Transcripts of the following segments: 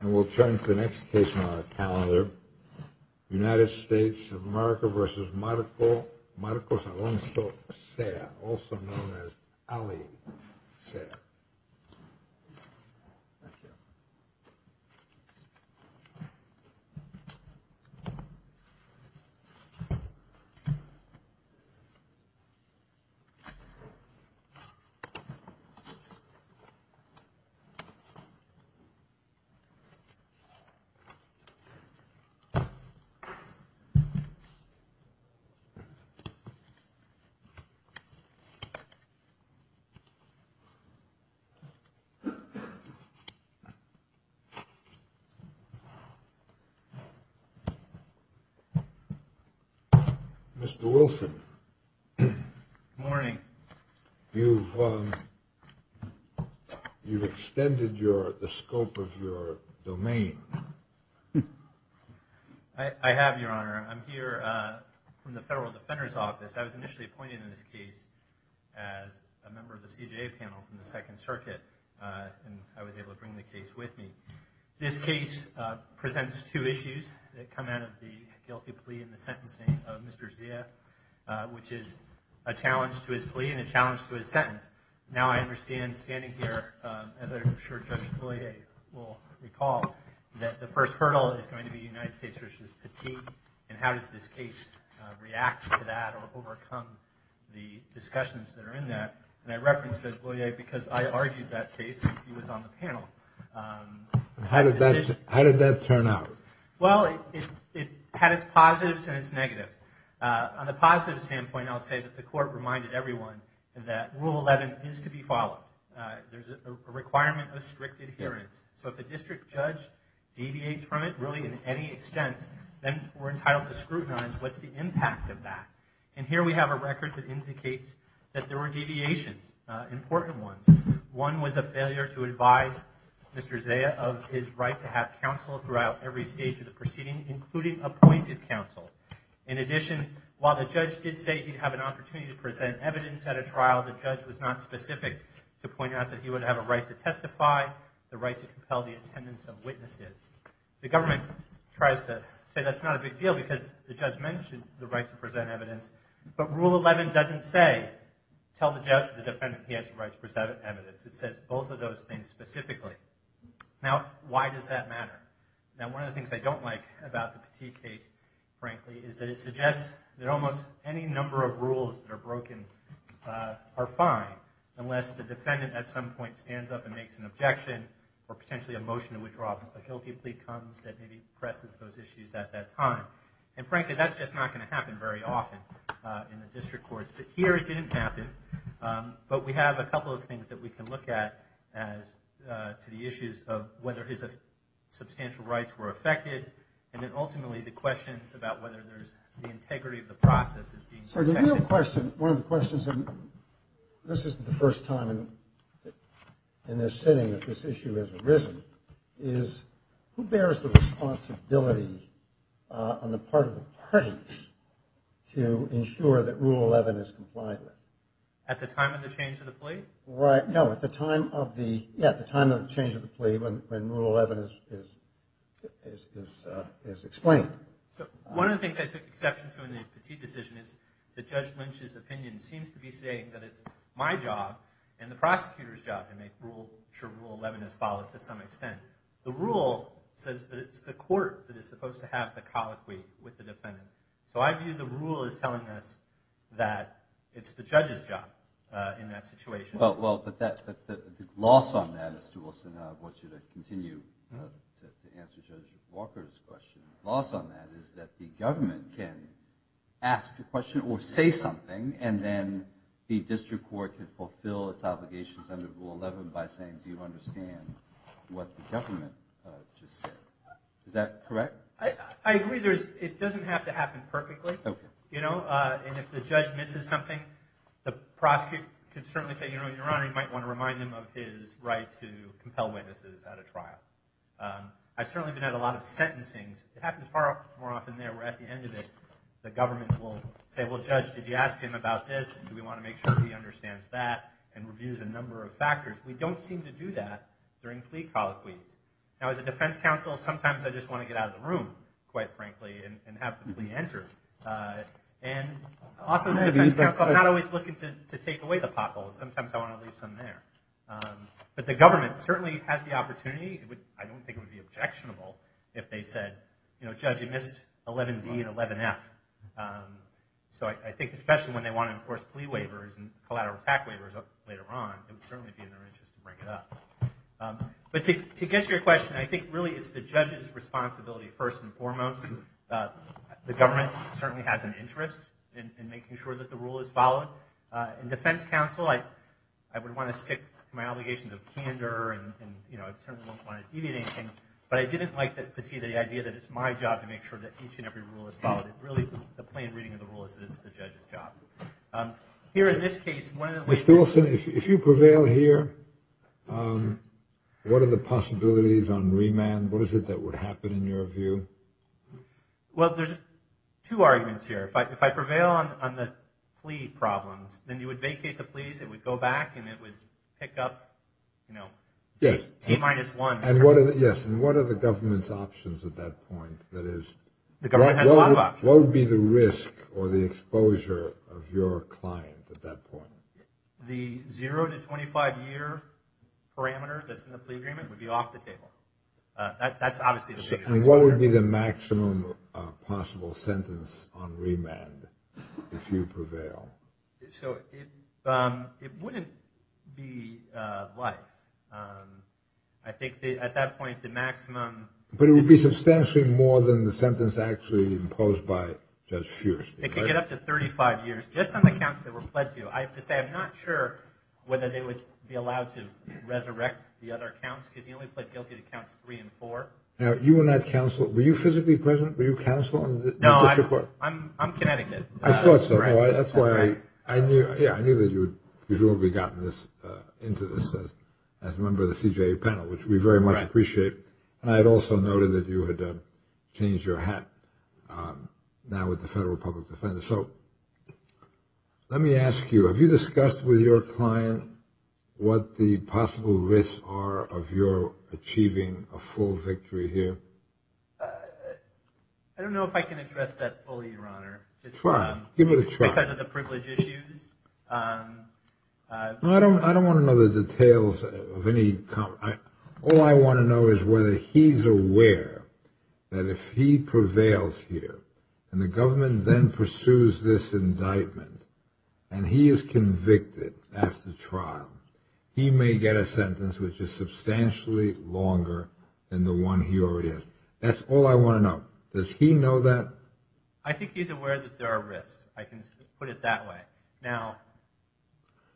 And we'll turn to the next case on our calendar, United States of America v. Marcos Alonso Serra, also known as Ali Serra. Mr. Wilson. Good morning. You've extended the scope of your domain. I have, Your Honor. I'm here from the Federal Defender's Office. I was initially appointed in this case as a member of the CJA panel from the Second Circuit, and I was able to bring the case with me. This case presents two issues that come out of the guilty plea and the sentencing of Mr. Zea, which is a challenge to his plea and a challenge to his sentence. Now I understand, standing here, as I'm sure Judge Boulier will recall, that the first hurdle is going to be United States v. Petit. And how does this case react to that or overcome the discussions that are in that? And I reference Judge Boulier because I argued that case when he was on the panel. How did that turn out? Well, it had its positives and its negatives. On the positive standpoint, I'll say that the court reminded everyone that Rule 11 is to be followed. There's a requirement of strict adherence. So if a district judge deviates from it, really in any extent, then we're entitled to scrutinize what's the impact of that. And here we have a record that indicates that there were deviations, important ones. One was a failure to advise Mr. Zea of his right to have counsel throughout every stage of the proceeding, including appointed counsel. In addition, while the judge did say he'd have an opportunity to present evidence at a trial, the judge was not specific to point out that he would have a right to testify, the right to compel the attendance of witnesses. The government tries to say that's not a big deal because the judge mentioned the right to present evidence, but Rule 11 doesn't say tell the defendant he has the right to present evidence. It says both of those things specifically. Now, why does that matter? Now, one of the things I don't like about the Petit case, frankly, is that it suggests that almost any number of rules that are broken are fine unless the defendant at some point stands up and makes an objection or potentially a motion in which a guilty plea comes that maybe presses those issues at that time. And frankly, that's just not going to happen very often in the district courts. But here it didn't happen. But we have a couple of things that we can look at as to the issues of whether his substantial rights were affected, and then ultimately the questions about whether there's the integrity of the process is being subjected to. One of the questions, and this isn't the first time in this sitting that this issue has arisen, is who bears the responsibility on the part of the parties to ensure that Rule 11 is complied with? At the time of the change of the plea? No, at the time of the change of the plea when Rule 11 is explained. One of the things I took exception to in the Petit decision is that Judge Lynch's opinion seems to be saying that it's my job and the prosecutor's job to make sure Rule 11 is followed to some extent. The rule says that it's the court that is supposed to have the colloquy with the defendant. So I view the rule as telling us that it's the judge's job in that situation. Well, but the loss on that is to us, and I want you to continue to answer Judge Walker's question. The loss on that is that the government can ask a question or say something, and then the district court can fulfill its obligations under Rule 11 by saying, do you understand what the government just said? Is that correct? I agree. It doesn't have to happen perfectly. And if the judge misses something, the prosecutor could certainly say, Your Honor, you might want to remind him of his right to compel witnesses at a trial. I've certainly been at a lot of sentencings. It happens far more often there where at the end of it the government will say, well, Judge, did you ask him about this? Do we want to make sure he understands that and reviews a number of factors? We don't seem to do that during plea colloquies. Now, as a defense counsel, sometimes I just want to get out of the room, quite frankly, and have the plea entered. And also as a defense counsel, I'm not always looking to take away the potholes. Sometimes I want to leave some there. But the government certainly has the opportunity. I don't think it would be objectionable if they said, you know, Judge, you missed 11D and 11F. So I think especially when they want to enforce plea waivers and collateral attack waivers later on, it would certainly be in their interest to bring it up. But to get to your question, I think really it's the judge's responsibility first and foremost. The government certainly has an interest in making sure that the rule is followed. In defense counsel, I would want to stick to my obligations of candor and certainly wouldn't want to deviate anything. But I didn't like the idea that it's my job to make sure that each and every rule is followed. Really the plain reading of the rule is that it's the judge's job. Mr. Wilson, if you prevail here, what are the possibilities on remand? What is it that would happen in your view? Well, there's two arguments here. If I prevail on the plea problems, then you would vacate the pleas. It would go back, and it would pick up, you know, T minus one. Yes, and what are the government's options at that point? That is, what would be the risk or the exposure? What would be the exposure of your client at that point? The zero to 25-year parameter that's in the plea agreement would be off the table. That's obviously the biggest exposure. And what would be the maximum possible sentence on remand if you prevail? So it wouldn't be life. I think at that point the maximum— But it would be substantially more than the sentence actually imposed by Judge Feust. It could get up to 35 years, just on the counts that were pledged to you. I have to say I'm not sure whether they would be allowed to resurrect the other counts because he only pled guilty to counts three and four. Now, you were not counsel. Were you physically present? Were you counsel? No, I'm Connecticut. I thought so. That's why I knew that you had probably gotten into this as a member of the CJA panel, which we very much appreciate. And I had also noted that you had changed your hat now with the Federal Public Defender. So let me ask you, have you discussed with your client what the possible risks are of your achieving a full victory here? I don't know if I can address that fully, Your Honor. Try. Give it a try. Because of the privilege issues. I don't want to know the details of any— All I want to know is whether he's aware that if he prevails here and the government then pursues this indictment and he is convicted after trial, he may get a sentence which is substantially longer than the one he already has. That's all I want to know. Does he know that? I think he's aware that there are risks. I can put it that way. Now—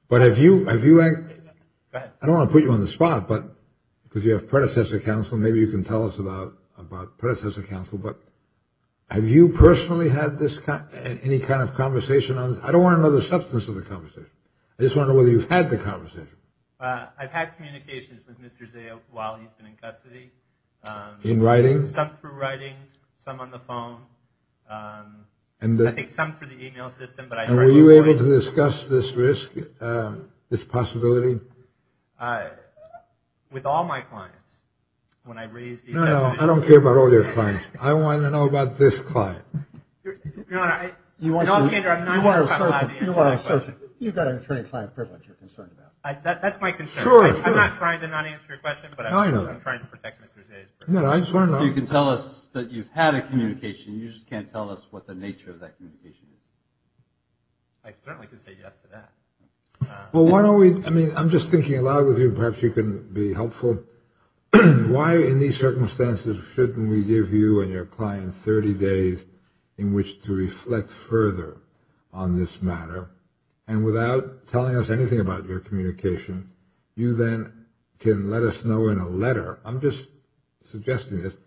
But have you— Go ahead. I don't want to put you on the spot, but because you have predecessor counsel, maybe you can tell us about predecessor counsel, but have you personally had any kind of conversation on this? I don't want to know the substance of the conversation. I just want to know whether you've had the conversation. I've had communications with Mr. Zia while he's been in custody. In writing? Some through writing, some on the phone. I think some through the email system, but I— Were you able to discuss this risk, this possibility? With all my clients, when I raise these questions— No, no, I don't care about all your clients. I want to know about this client. Your Honor, in all candor, I'm not sure if I'm allowed to answer that question. You've got an attorney-client privilege you're concerned about. That's my concern. I'm not trying to not answer your question, but I'm trying to protect Mr. Zia's privilege. You can tell us that you've had a communication. You just can't tell us what the nature of that communication is. I certainly could say yes to that. Well, why don't we—I mean, I'm just thinking aloud with you. Perhaps you can be helpful. Why, in these circumstances, shouldn't we give you and your client 30 days in which to reflect further on this matter? And without telling us anything about your communication, you then can let us know in a letter. I'm just suggesting this.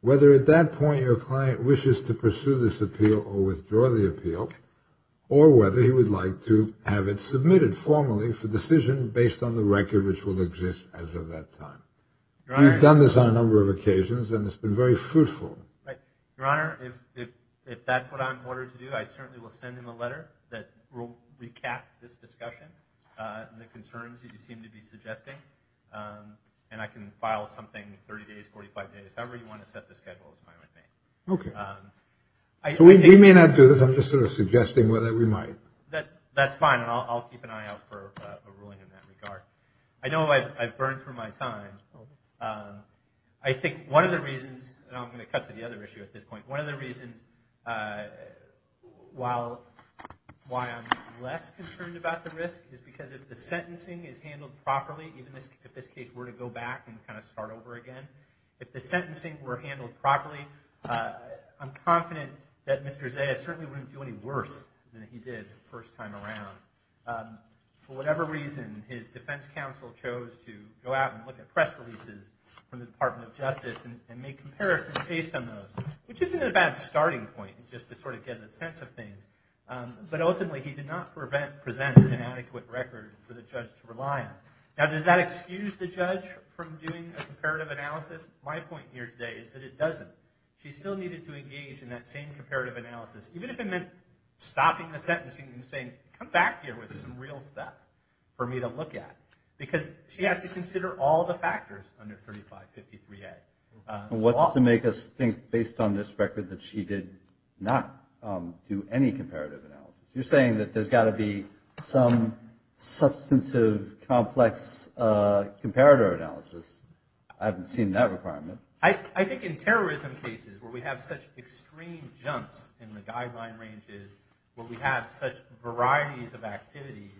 whether at that point your client wishes to pursue this appeal or withdraw the appeal, or whether he would like to have it submitted formally for decision based on the record which will exist as of that time. Your Honor— We've done this on a number of occasions, and it's been very fruitful. Your Honor, if that's what I'm ordered to do, I certainly will send him a letter that will recap this discussion and the concerns that you seem to be suggesting, and I can file something 30 days, 45 days, however you want to set the schedule with my right hand. Okay. So we may not do this. I'm just sort of suggesting whether we might. That's fine, and I'll keep an eye out for a ruling in that regard. I know I've burned through my time. I think one of the reasons—and I'm going to cut to the other issue at this point. One of the reasons why I'm less concerned about the risk is because if the sentencing is handled properly, even if this case were to go back and kind of start over again, if the sentencing were handled properly, I'm confident that Mr. Zayas certainly wouldn't do any worse than he did the first time around. For whatever reason, his defense counsel chose to go out and look at press releases from the Department of Justice and make comparisons based on those, which isn't a bad starting point just to sort of get a sense of things, but ultimately he did not present an adequate record for the judge to rely on. Now, does that excuse the judge from doing a comparative analysis? My point here today is that it doesn't. She still needed to engage in that same comparative analysis, even if it meant stopping the sentencing and saying, come back here with some real stuff for me to look at, because she has to consider all the factors under 3553A. What's to make us think, based on this record, that she did not do any comparative analysis? You're saying that there's got to be some substantive, complex comparator analysis. I haven't seen that requirement. I think in terrorism cases where we have such extreme jumps in the guideline ranges, where we have such varieties of activities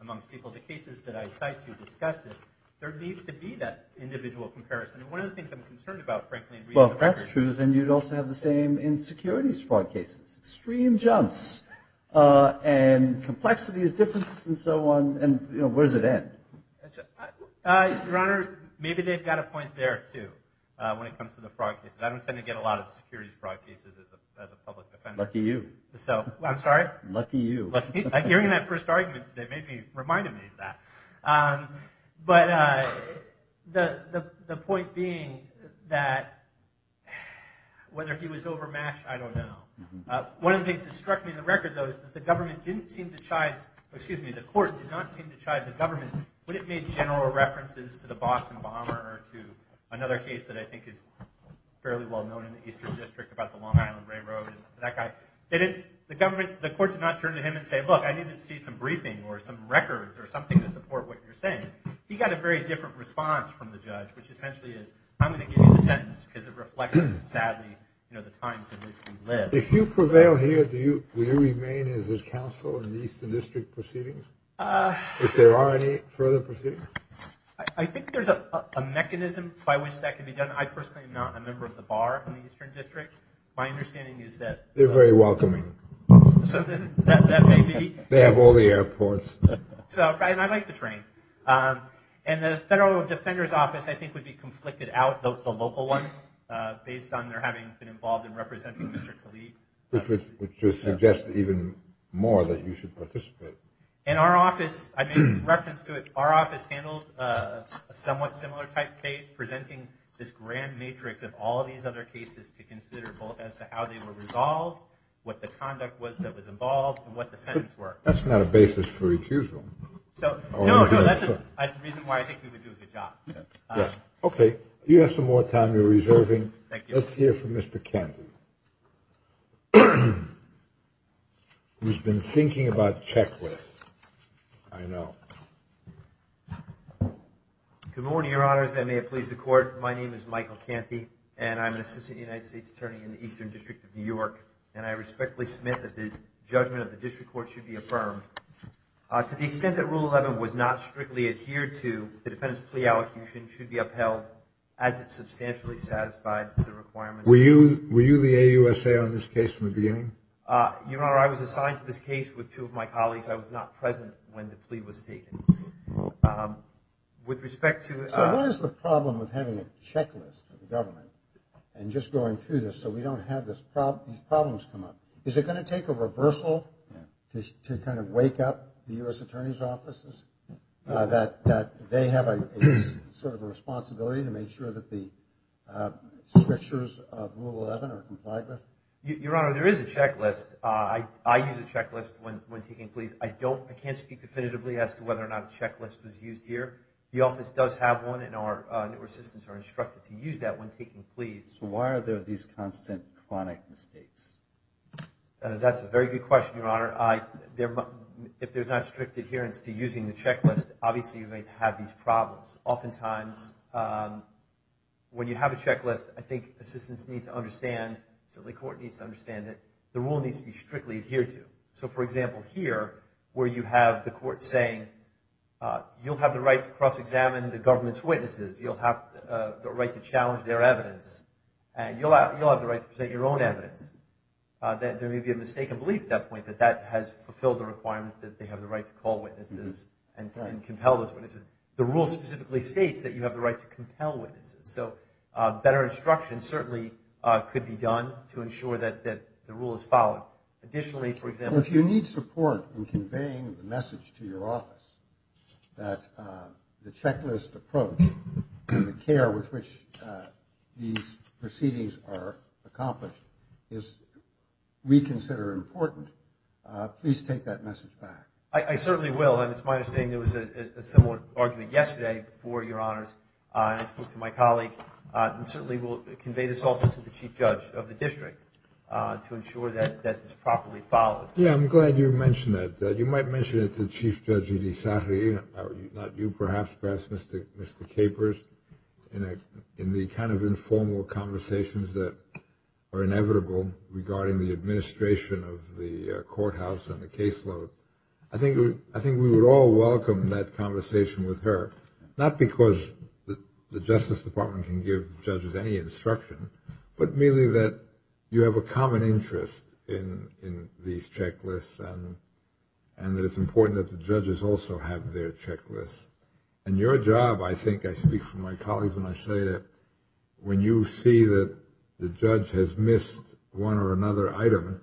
amongst people, the cases that I cite to discuss this, there needs to be that individual comparison. And one of the things I'm concerned about, frankly, in reading the record. Well, if that's true, then you'd also have the same in securities fraud cases, extreme jumps and complexities, differences, and so on, and where does it end? Your Honor, maybe they've got a point there, too, when it comes to the fraud cases. I don't tend to get a lot of securities fraud cases as a public defender. Lucky you. I'm sorry? Lucky you. Hearing that first argument today reminded me of that. But the point being that whether he was overmatched, I don't know. One of the things that struck me in the record, though, is that the government didn't seem to chide – excuse me, the court did not seem to chide the government, but it made general references to the Boston bomber or to another case that I think is fairly well known in the Eastern District about the Long Island Railroad and that guy. The court did not turn to him and say, look, I need to see some briefing or some records or something to support what you're saying. He got a very different response from the judge, which essentially is, I'm going to give you the sentence because it reflects, sadly, the times in which we live. If you prevail here, will you remain as his counsel in the Eastern District proceedings? If there are any further proceedings? I think there's a mechanism by which that can be done. I personally am not a member of the bar in the Eastern District. My understanding is that – They're very welcoming. That may be. They have all the airports. I like the train. And the Federal Defender's Office, I think, would be conflicted out, the local one, based on their having been involved in representing Mr. Khalid. Which would suggest even more that you should participate. In our office, I made reference to it, our office handled a somewhat similar type case, presenting this grand matrix of all these other cases to consider, both as to how they were resolved, what the conduct was that was involved, and what the sentences were. That's not a basis for recusal. No, that's a reason why I think we would do a good job. Okay. You have some more time you're reserving. Thank you. Let's hear from Mr. Kendi. Who's been thinking about checklists. I know. Good morning, Your Honors. I may have pleased the Court. My name is Michael Kendi, and I'm an Assistant United States Attorney in the Eastern District of New York, and I respectfully submit that the judgment of the District Court should be affirmed. To the extent that Rule 11 was not strictly adhered to, the defendant's plea allocution should be upheld as it substantially satisfied the requirements. Were you the AUSA on this case from the beginning? Your Honor, I was assigned to this case with two of my colleagues. I was not present when the plea was taken. So what is the problem with having a checklist of the government and just going through this so we don't have these problems come up? Is it going to take a reversal to kind of wake up the U.S. Attorney's offices, that they have sort of a responsibility to make sure that the strictures of Rule 11 are complied with? Your Honor, there is a checklist. I use a checklist when taking pleas. I can't speak definitively as to whether or not a checklist was used here. The office does have one, and our assistants are instructed to use that when taking pleas. So why are there these constant chronic mistakes? That's a very good question, Your Honor. If there's not strict adherence to using the checklist, obviously you're going to have these problems. Oftentimes when you have a checklist, I think assistants need to understand, certainly the court needs to understand, that the rule needs to be strictly adhered to. So, for example, here where you have the court saying, you'll have the right to cross-examine the government's witnesses, you'll have the right to challenge their evidence, and you'll have the right to present your own evidence. There may be a mistaken belief at that point that that has fulfilled the requirements that they have the right to call witnesses and compel those witnesses. The rule specifically states that you have the right to compel witnesses. So better instruction certainly could be done to ensure that the rule is followed. Additionally, for example, if you need support in conveying the message to your office that the checklist approach and the care with which these proceedings are accomplished is reconsidered important, please take that message back. I certainly will, and it's my understanding there was a similar argument yesterday for Your Honors, and I spoke to my colleague, and certainly will convey this also to the chief judge of the district to ensure that it's properly followed. Yeah, I'm glad you mentioned that. You might mention it to Chief Judge Elisagri, not you perhaps, perhaps Mr. Capers, in the kind of informal conversations that are inevitable regarding the administration of the courthouse and the caseload. I think we would all welcome that conversation with her, not because the Justice Department can give judges any instruction, but merely that you have a common interest in these checklists and that it's important that the judges also have their checklist. And your job, I think, I speak for my colleagues when I say that when you see that the judge has missed one or another item,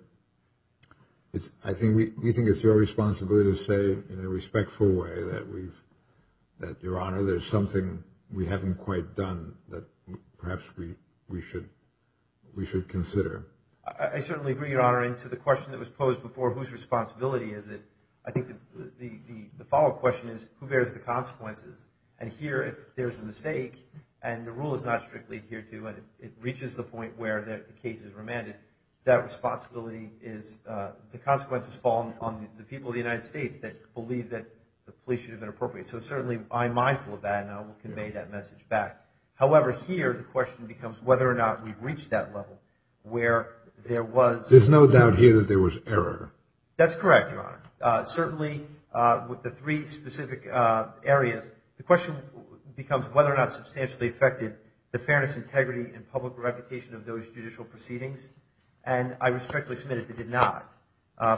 I think we think it's your responsibility to say in a respectful way that, Your Honor, there's something we haven't quite done that perhaps we should consider. I certainly agree, Your Honor, and to the question that was posed before, whose responsibility is it? I think the follow-up question is, who bears the consequences? And here, if there's a mistake and the rule is not strictly adhered to and it reaches the point where the case is remanded, that responsibility is, the consequences fall on the people of the United States that believe that the police should have been appropriate. So certainly, I'm mindful of that and I will convey that message back. However, here, the question becomes whether or not we've reached that level where there was... There's no doubt here that there was error. That's correct, Your Honor. Certainly, with the three specific areas, the question becomes whether or not substantially affected the fairness, integrity, and public reputation of those judicial proceedings. And I respectfully submit that it did not.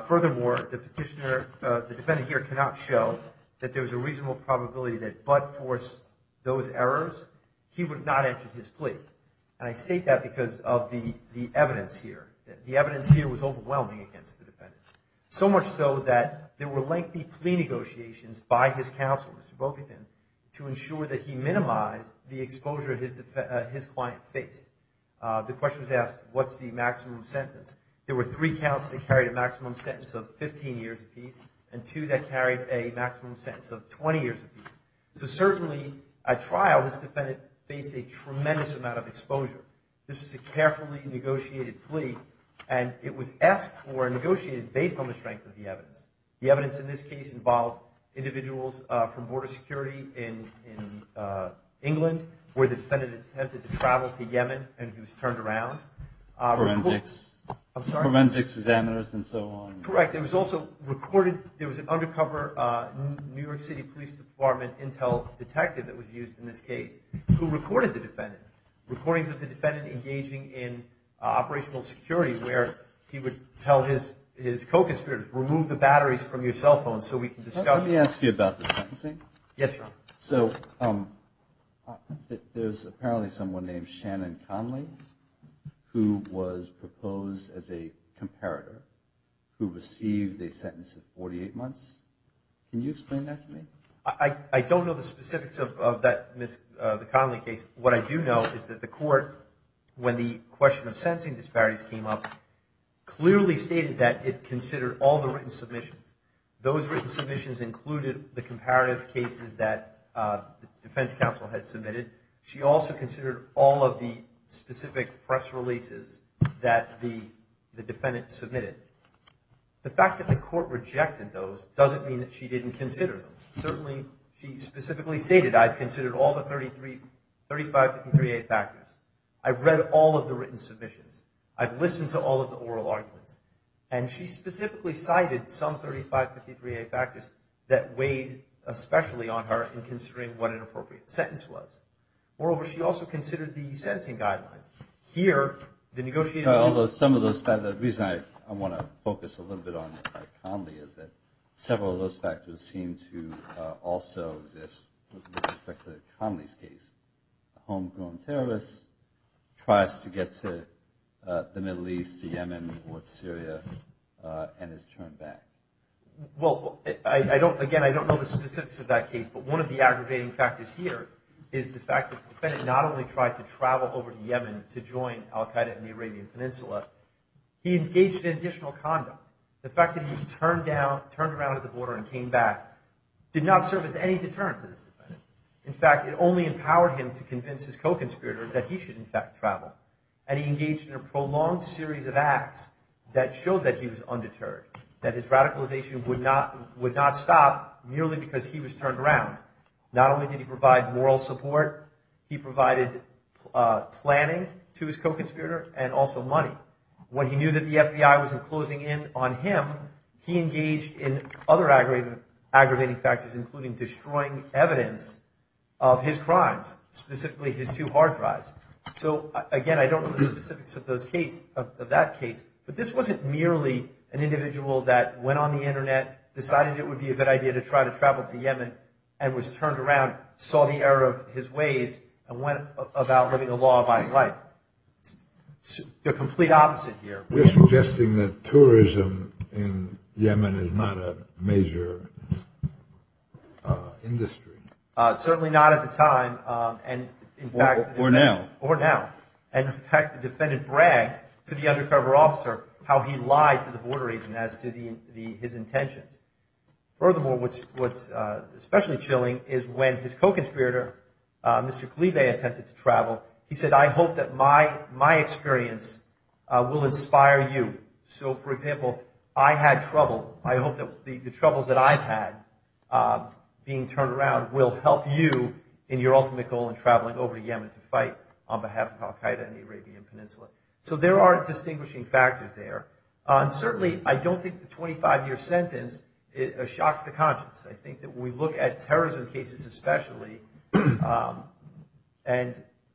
Furthermore, the petitioner, the defendant here, cannot show that there was a reasonable probability that but forced those errors, he would not have entered his plea. And I state that because of the evidence here. The evidence here was overwhelming against the defendant. So much so that there were lengthy plea negotiations by his counsel, Mr. Bogatin, to ensure that he minimized the exposure his client faced. The question was asked, what's the maximum sentence? There were three counts that carried a maximum sentence of 15 years apiece and two that carried a maximum sentence of 20 years apiece. So certainly, at trial, this defendant faced a tremendous amount of exposure. This was a carefully negotiated plea and it was asked for and negotiated based on the strength of the evidence. The evidence in this case involved individuals from border security in England where the defendant attempted to travel to Yemen and he was turned around. Forensics. I'm sorry? Forensics examiners and so on. Correct. It was also recorded. There was an undercover New York City Police Department intel detective that was used in this case who recorded the defendant, recordings of the defendant engaging in operational security where he would tell his co-conspirators, remove the batteries from your cell phones so we can discuss. Let me ask you about the sentencing. Yes, Your Honor. So there's apparently someone named Shannon Conley who was proposed as a comparator who received a sentence of 48 months. Can you explain that to me? I don't know the specifics of the Conley case. What I do know is that the court, when the question of sentencing disparities came up, clearly stated that it considered all the written submissions. Those written submissions included the comparative cases that the defense counsel had submitted. She also considered all of the specific press releases that the defendant submitted. The fact that the court rejected those doesn't mean that she didn't consider them. Certainly, she specifically stated, I've considered all the 35 and 38 factors. I've read all of the written submissions. I've listened to all of the oral arguments. And she specifically cited some 35, 53, 38 factors that weighed especially on her in considering what an appropriate sentence was. Moreover, she also considered the sentencing guidelines. Here, the negotiated- Although some of those, the reason I want to focus a little bit on Conley is that several of those factors seem to also exist with respect to Conley's case. A homegrown terrorist tries to get to the Middle East, Yemen, or Syria, and is turned back. Well, again, I don't know the specifics of that case, but one of the aggravating factors here is the fact that the defendant not only tried to travel over to Yemen to join al-Qaeda in the Arabian Peninsula, he engaged in additional condom. The fact that he was turned around at the border and came back did not serve as any deterrent to this defendant. In fact, it only empowered him to convince his co-conspirator that he should, in fact, travel. And he engaged in a prolonged series of acts that showed that he was undeterred, that his radicalization would not stop merely because he was turned around. Not only did he provide moral support, he provided planning to his co-conspirator, and also money. When he knew that the FBI was enclosing in on him, he engaged in other aggravating factors, including destroying evidence of his crimes, specifically his two hard drives. So, again, I don't know the specifics of that case, but this wasn't merely an individual that went on the Internet, decided it would be a good idea to try to travel to Yemen, and was turned around, saw the error of his ways, and went about living a law-abiding life. The complete opposite here. You're suggesting that tourism in Yemen is not a major industry. Certainly not at the time. Or now. Or now. In fact, the defendant bragged to the undercover officer how he lied to the border agent as to his intentions. Furthermore, what's especially chilling is when his co-conspirator, Mr. Kleebe, attempted to travel, he said, I hope that my experience will inspire you. So, for example, I had trouble. I hope that the troubles that I've had being turned around will help you in your ultimate goal in traveling over to Yemen to fight on behalf of al Qaeda in the Arabian Peninsula. So there are distinguishing factors there. And certainly I don't think the 25-year sentence shocks the conscience. I think that when we look at terrorism cases especially, and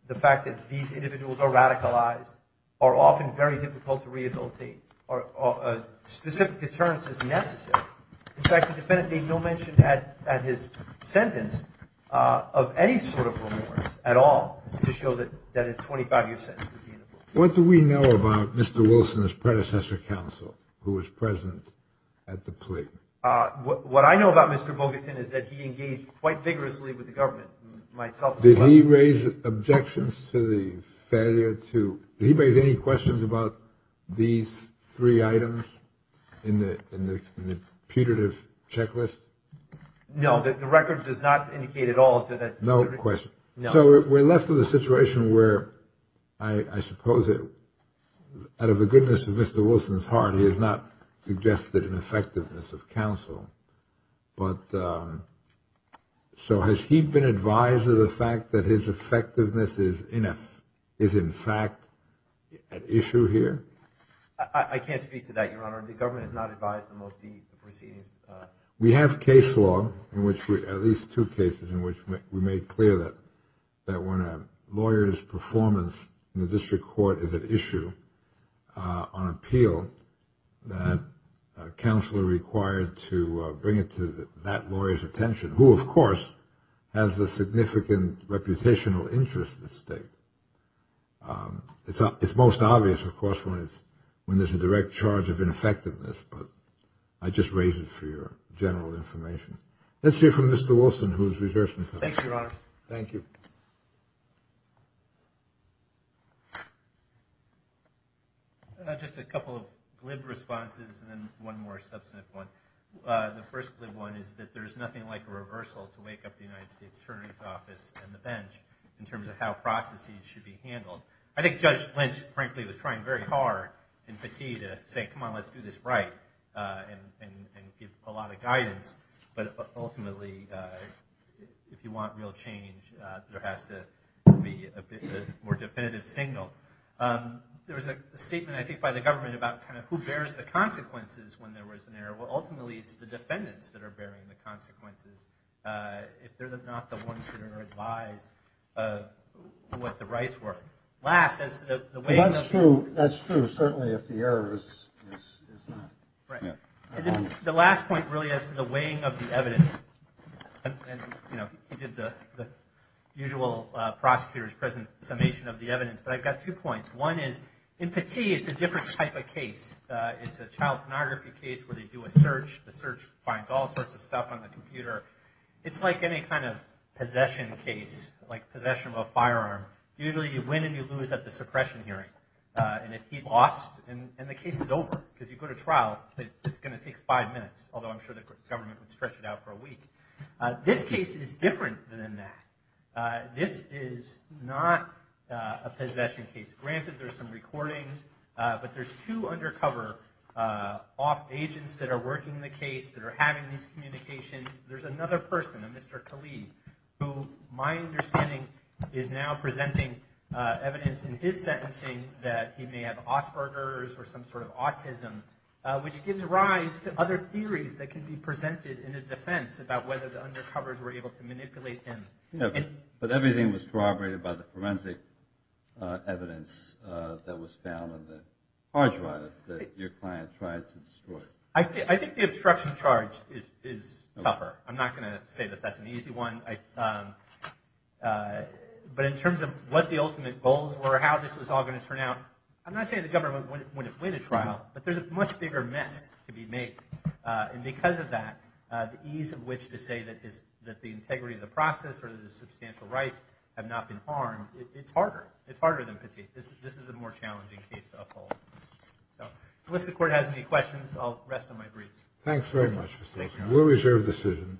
the fact that these individuals are radicalized, are often very difficult to rehabilitate, or specific deterrence is necessary. In fact, the defendant made no mention at his sentence of any sort of remorse at all to show that a 25-year sentence would be enough. What do we know about Mr. Wilson's predecessor counsel, who was present at the plea? What I know about Mr. Bogatin is that he engaged quite vigorously with the government, myself included. Did he raise objections to the failure to – did he raise any questions about these three items in the putative checklist? No, the record does not indicate at all that – No questions. No. So we're left with a situation where, I suppose, out of the goodness of Mr. Wilson's heart, he has not suggested an effectiveness of counsel. So has he been advised of the fact that his effectiveness is in fact at issue here? I can't speak to that, Your Honor. The government has not advised him of the proceedings. We have case law, at least two cases, in which we made clear that when a lawyer's performance in the district court is at issue on appeal, that a counselor required to bring it to that lawyer's attention, who, of course, has a significant reputational interest at stake. It's most obvious, of course, when there's a direct charge of ineffectiveness, but I just raise it for your general information. Let's hear from Mr. Wilson, who is reserving time. Thank you, Your Honor. Thank you. Just a couple of glib responses and then one more substantive one. The first glib one is that there's nothing like a reversal to wake up the United States Attorney's Office and the bench in terms of how processes should be handled. I think Judge Lynch, frankly, was trying very hard in fatigue to say, come on, let's do this right and give a lot of guidance. But ultimately, if you want real change, there has to be a more definitive signal. There was a statement, I think, by the government about kind of who bears the consequences when there was an error. Well, ultimately, it's the defendants that are bearing the consequences, if they're not the ones that are advised of what the rights were. That's true, certainly, if the error is not. The last point really is the weighing of the evidence. You did the usual prosecutor's present summation of the evidence, but I've got two points. One is in Petit, it's a different type of case. It's a child pornography case where they do a search. The search finds all sorts of stuff on the computer. It's like any kind of possession case, like possession of a firearm. Usually you win and you lose at the suppression hearing. And if he lost and the case is over, because you go to trial, it's going to take five minutes, although I'm sure the government would stretch it out for a week. This case is different than that. This is not a possession case. Granted, there's some recordings, but there's two undercover agents that are working the case, that are having these communications. There's another person, a Mr. Khalid, who my understanding is now presenting evidence in his sentencing that he may have Asperger's or some sort of autism, which gives rise to other theories that can be presented in a defense about whether the undercovers were able to manipulate him. But everything was corroborated by the forensic evidence that was found in the hard drives that your client tried to destroy. I think the obstruction charge is tougher. I'm not going to say that that's an easy one. But in terms of what the ultimate goals were, how this was all going to turn out, I'm not saying the government wouldn't win a trial, but there's a much bigger mess to be made. And because of that, the ease of which to say that the integrity of the process or the substantial rights have not been harmed, it's harder. It's harder than Petit. This is a more challenging case to uphold. So unless the court has any questions, I'll rest on my greaves. Thanks very much, Mr. Olson. We'll reserve the session.